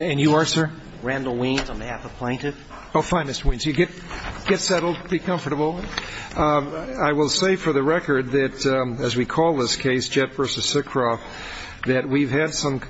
I will say for the record that, as we call this case, Jett v. Sicroff, that we've had some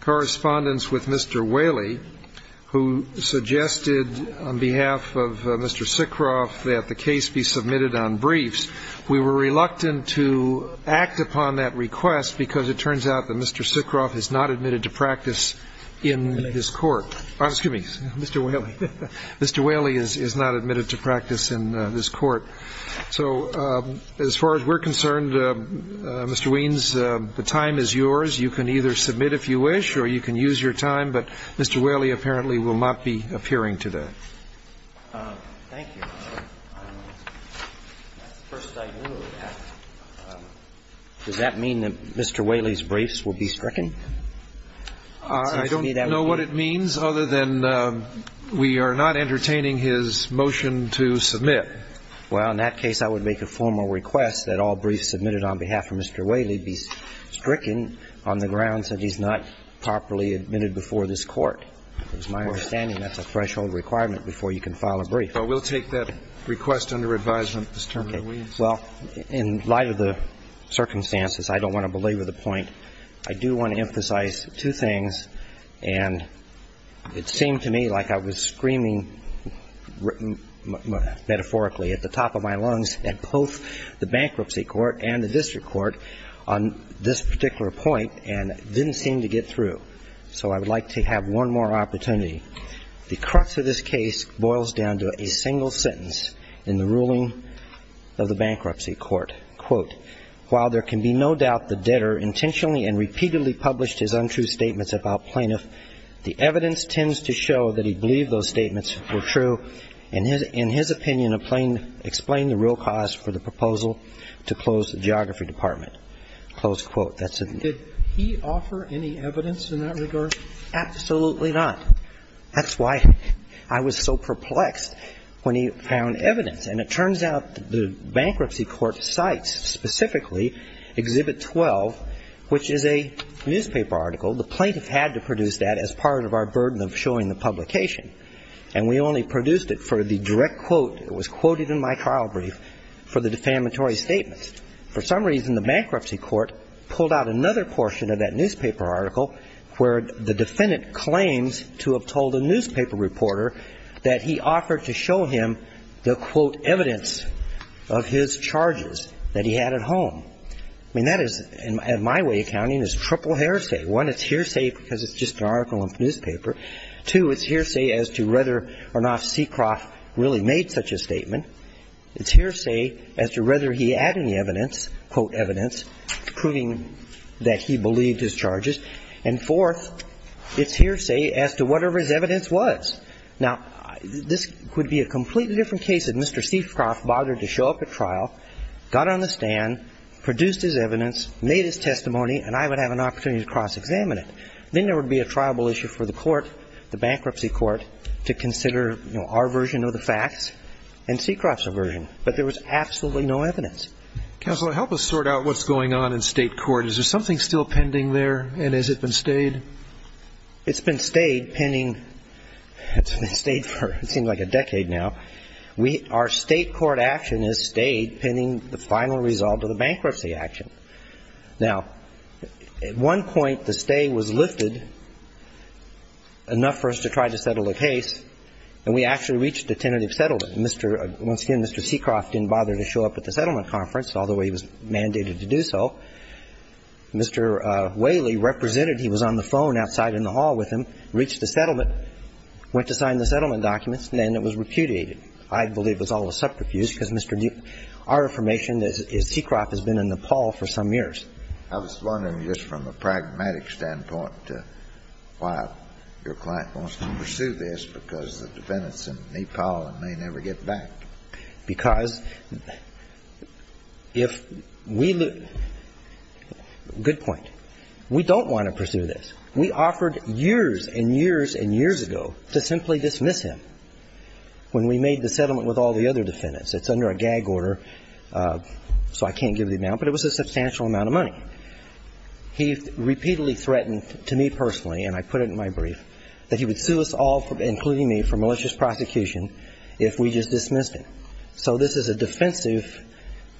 correspondence with Mr. Whaley, who suggested on behalf of Mr. Sicroff that the case be submitted on briefs. We were reluctant to act upon that request because it turns out that Mr. Sicroff has not admitted to practice in this case. Mr. Whaley is not admitted to practice in this court. So as far as we're concerned, Mr. Weins, the time is yours. You can either submit if you wish or you can use your time, but Mr. Whaley apparently will not be appearing today. Thank you. That's the first I knew of that. Does that mean that Mr. Whaley's briefs will be stricken? I don't know what it means other than we are not entertaining his motion to submit. Well, in that case, I would make a formal request that all briefs submitted on behalf of Mr. Whaley be stricken on the grounds that he's not properly admitted before this court. It's my understanding that's a threshold requirement before you can file a brief. Well, we'll take that request under advisement, Mr. Weins. Well, in light of the circumstances, I don't want to belabor the point. I do want to emphasize two things. And it seemed to me like I was screaming metaphorically at the top of my lungs at both the bankruptcy court and the district court on this particular point and didn't seem to get through. So I would like to have one more opportunity. The crux of this case boils down to a single sentence in the ruling of the bankruptcy court. Quote, while there can be no doubt the debtor intentionally and repeatedly published his untrue statements about plaintiff, the evidence tends to show that he believed those statements were true and, in his opinion, explained the real cause for the proposal to close the geography department. Close quote. Did he offer any evidence in that regard? Absolutely not. That's why I was so perplexed when he found evidence. And it turns out the bankruptcy court cites specifically Exhibit 12, which is a newspaper article. The plaintiff had to produce that as part of our burden of showing the publication. And we only produced it for the direct quote. It was quoted in my trial brief for the defamatory statements. For some reason, the bankruptcy court pulled out another portion of that newspaper article where the defendant claims to have told a newspaper reporter that he offered to show him the, quote, evidence of his charges that he had at home. I mean, that is, in my way of counting, is triple hearsay. One, it's hearsay because it's just an article in the newspaper. Two, it's hearsay as to whether or not Seacroft really made such a statement. It's hearsay as to whether he had any evidence, quote, evidence, proving that he believed his charges. And fourth, it's hearsay as to whatever his evidence was. Now, this would be a completely different case if Mr. Seacroft bothered to show up at trial, got on the stand, produced his evidence, made his testimony, and I would have an opportunity to cross-examine it. Then there would be a tribal issue for the court, the bankruptcy court, to consider our version of the facts and Seacroft's version. But there was absolutely no evidence. Counsel, help us sort out what's going on in state court. Is there something still pending there, and has it been stayed? It's been stayed pending. It's been stayed for, it seems like a decade now. Our state court action is stayed pending the final result of the bankruptcy action. Now, at one point, the stay was lifted enough for us to try to settle the case, and we actually reached a tentative settlement. Mr. Once again, Mr. Seacroft didn't bother to show up at the settlement conference, although he was mandated to do so. Mr. Whaley represented. He was on the phone outside in the hall with him, reached the settlement, went to sign the settlement documents, and then it was repudiated. I believe it was all a subterfuge, because, Mr. Duke, our information is Seacroft has been in Nepal for some years. I was wondering just from a pragmatic standpoint why your client wants to pursue this, because the defendants in Nepal may never get back. Because if we lose – good point. We don't want to pursue this. We offered years and years and years ago to simply dismiss him when we made the settlement with all the other defendants. It's under a gag order, so I can't give the amount, but it was a substantial amount of money. He repeatedly threatened to me personally, and I put it in my brief, that he would sue us all, including me, for malicious prosecution if we just dismissed him. So this is a defensive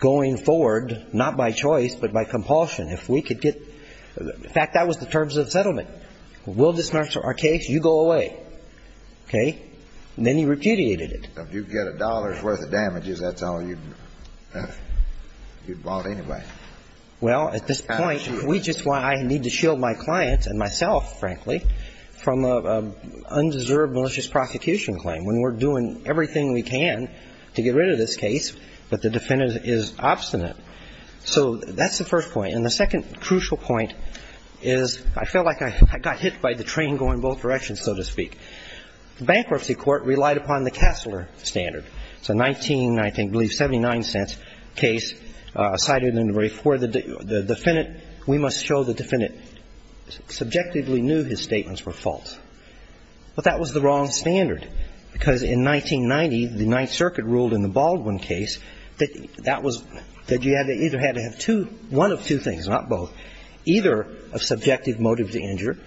going forward, not by choice, but by compulsion. If we could get – in fact, that was the terms of the settlement. We'll dismiss our case. You go away. Okay? And then he repudiated it. If you get a dollar's worth of damages, that's all you'd want anyway. Well, at this point, we just – I need to shield my clients and myself, frankly, from an undeserved malicious prosecution claim, when we're doing everything we can to get rid of this case, but the defendant is obstinate. So that's the first point. And the second crucial point is I felt like I got hit by the train going both directions, so to speak. The bankruptcy court relied upon the Kassler standard. It's a 19, I think, I believe, 79-cent case cited in the brief where the defendant – we must show the defendant subjectively knew his statements were false. But that was the wrong standard, because in 1990, the Ninth Circuit ruled in the Baldwin case that that was – that you either had to have two – one of two things, not both, either a subjective motive to injure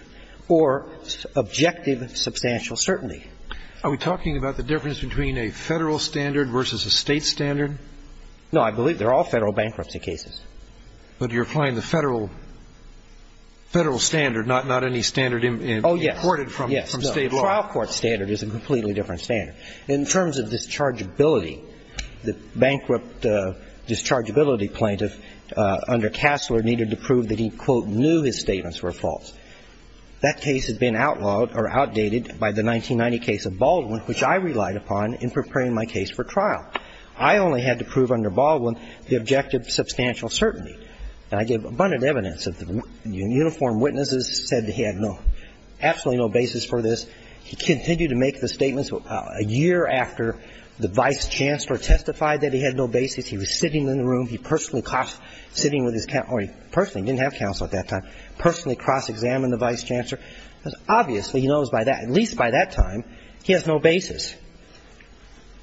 or objective substantial certainty. Are we talking about the difference between a Federal standard versus a State standard? No. I believe they're all Federal bankruptcy cases. But you're applying the Federal standard, not any standard in court. Oh, yes. Yes. The trial court standard is a completely different standard. In terms of dischargeability, the bankrupt dischargeability plaintiff under Kassler needed to prove that he, quote, knew his statements were false. That case had been outlawed or outdated by the 1990 case of Baldwin, which I relied upon in preparing my case for trial. I only had to prove under Baldwin the objective substantial certainty. And I gave abundant evidence that the uniformed witnesses said that he had no – absolutely no basis for this. He continued to make the statements a year after the vice chancellor testified that he had no basis. He was sitting in the room. He personally – sitting with his – or he personally didn't have counsel at that time. Personally cross-examined the vice chancellor, because obviously he knows by that – at least by that time, he has no basis.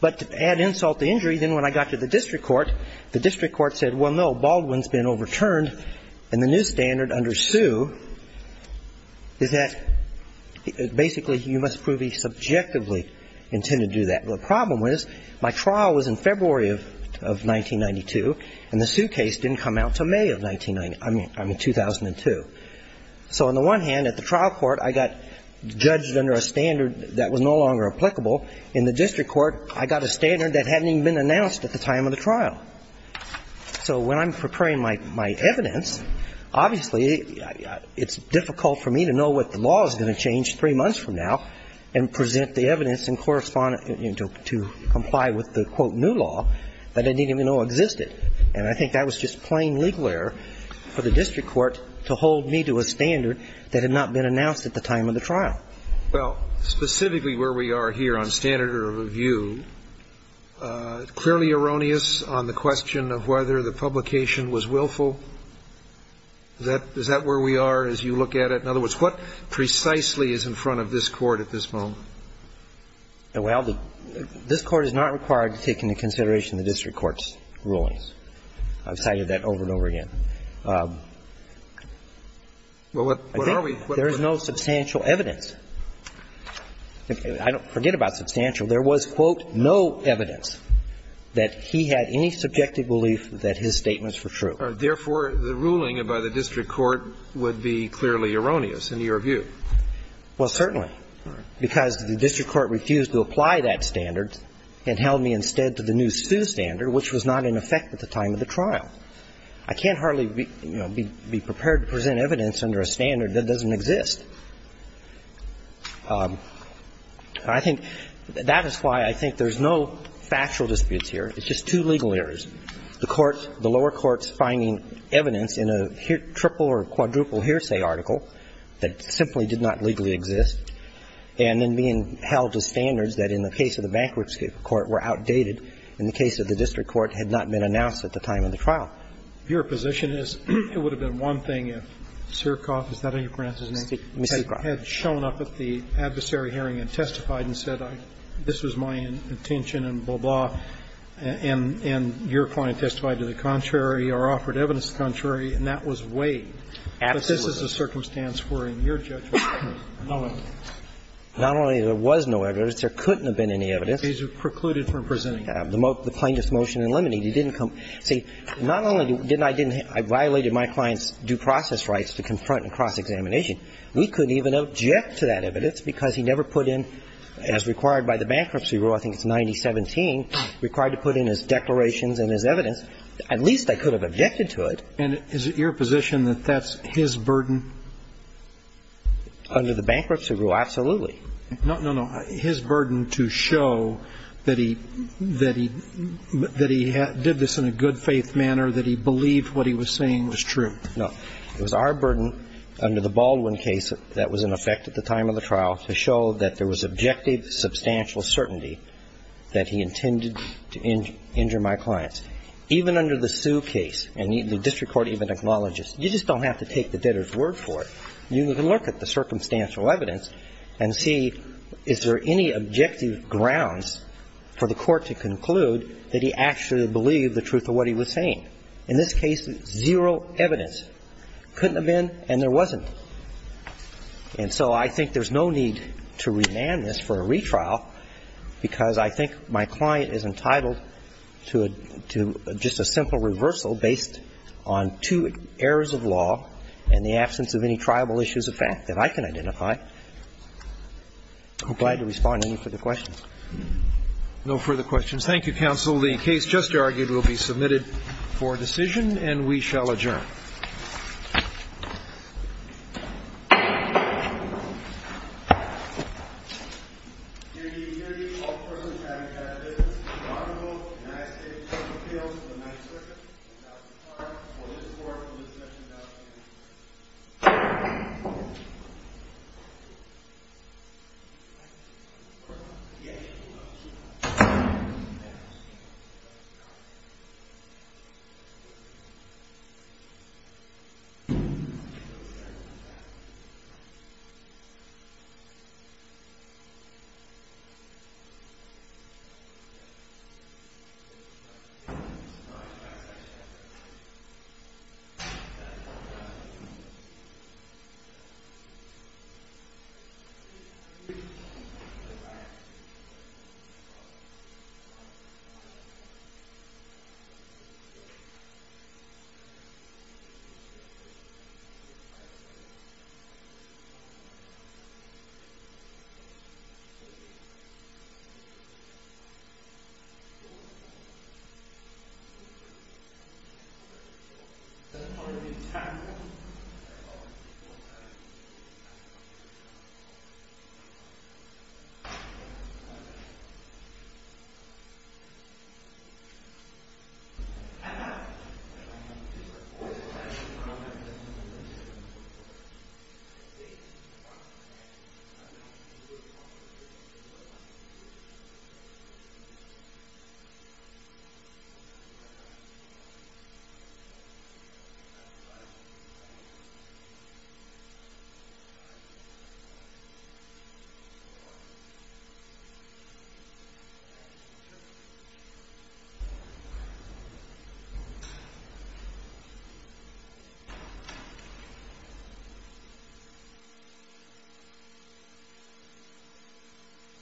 But to add insult to injury, then when I got to the district court, the district court said, well, no, you have to prove that Baldwin's been overturned. And the new standard under Sue is that basically you must prove he subjectively intended to do that. The problem was my trial was in February of 1992, and the Sue case didn't come out until May of 1990 – I mean 2002. So on the one hand, at the trial court, I got judged under a standard that was no longer applicable. In the district court, I got a standard that hadn't even been announced at the time of the trial. So when I'm preparing my evidence, obviously it's difficult for me to know what the law is going to change three months from now and present the evidence and correspond – to comply with the, quote, new law that I didn't even know existed. And I think that was just plain legal error for the district court to hold me to a standard that had not been announced at the time of the trial. Well, specifically where we are here on standard of review, clearly erroneous on the question of whether the publication was willful. Is that – is that where we are as you look at it? In other words, what precisely is in front of this Court at this moment? Well, this Court is not required to take into consideration the district court's rulings. I've cited that over and over again. Well, what are we – There is no substantial evidence. I don't forget about substantial. There was, quote, no evidence that he had any subjective belief that his statements were true. Therefore, the ruling by the district court would be clearly erroneous in your view. Well, certainly, because the district court refused to apply that standard and held me instead to the new Sioux standard, which was not in effect at the time of the trial. I can't hardly, you know, be – be prepared to present evidence under a standard that doesn't exist. I think that is why I think there's no factual disputes here. It's just two legal errors. The court – the lower court's finding evidence in a triple or quadruple hearsay article that simply did not legally exist, and then being held to standards that in the case of the bankruptcy court were outdated in the case of the district court had not been announced at the time of the trial. Your position is it would have been one thing if Sirkoff, is that how you pronounce his name, had shown up at the adversary hearing and testified and said, this was my intention and blah, blah, and your client testified to the contrary or offered evidence contrary, and that was weighed. Absolutely. But this is a circumstance where in your judgment there was no evidence. Not only there was no evidence, there couldn't have been any evidence. He precluded from presenting evidence. The plaintiff's motion eliminated. He didn't come – see, not only didn't I – I violated my client's due process rights to confront and cross-examination. We couldn't even object to that evidence because he never put in, as required by the bankruptcy rule, I think it's 9017, required to put in his declarations and his evidence. At least I could have objected to it. And is it your position that that's his burden? Under the bankruptcy rule, absolutely. No, no, no. His burden to show that he – that he did this in a good faith manner, that he believed what he was saying was true. No. It was our burden under the Baldwin case that was in effect at the time of the trial to show that there was objective, substantial certainty that he intended to injure my clients. Even under the Sue case, and the district court even acknowledges, you just don't have to take the debtor's word for it. You can look at the circumstantial evidence and see is there any objective grounds for the court to conclude that he actually believed the truth of what he was saying. In this case, zero evidence. Couldn't have been and there wasn't. And so I think there's no need to remand this for a retrial because I think my client is entitled to a – to just a simple reversal based on two errors of law and the absence of any triable issues of fact that I can identify. I'm glad to respond to any further questions. No further questions. Thank you, counsel. The case just argued will be submitted for decision and we shall adjourn. Thank you. Thank you. Thank you. Thank you. Thank you.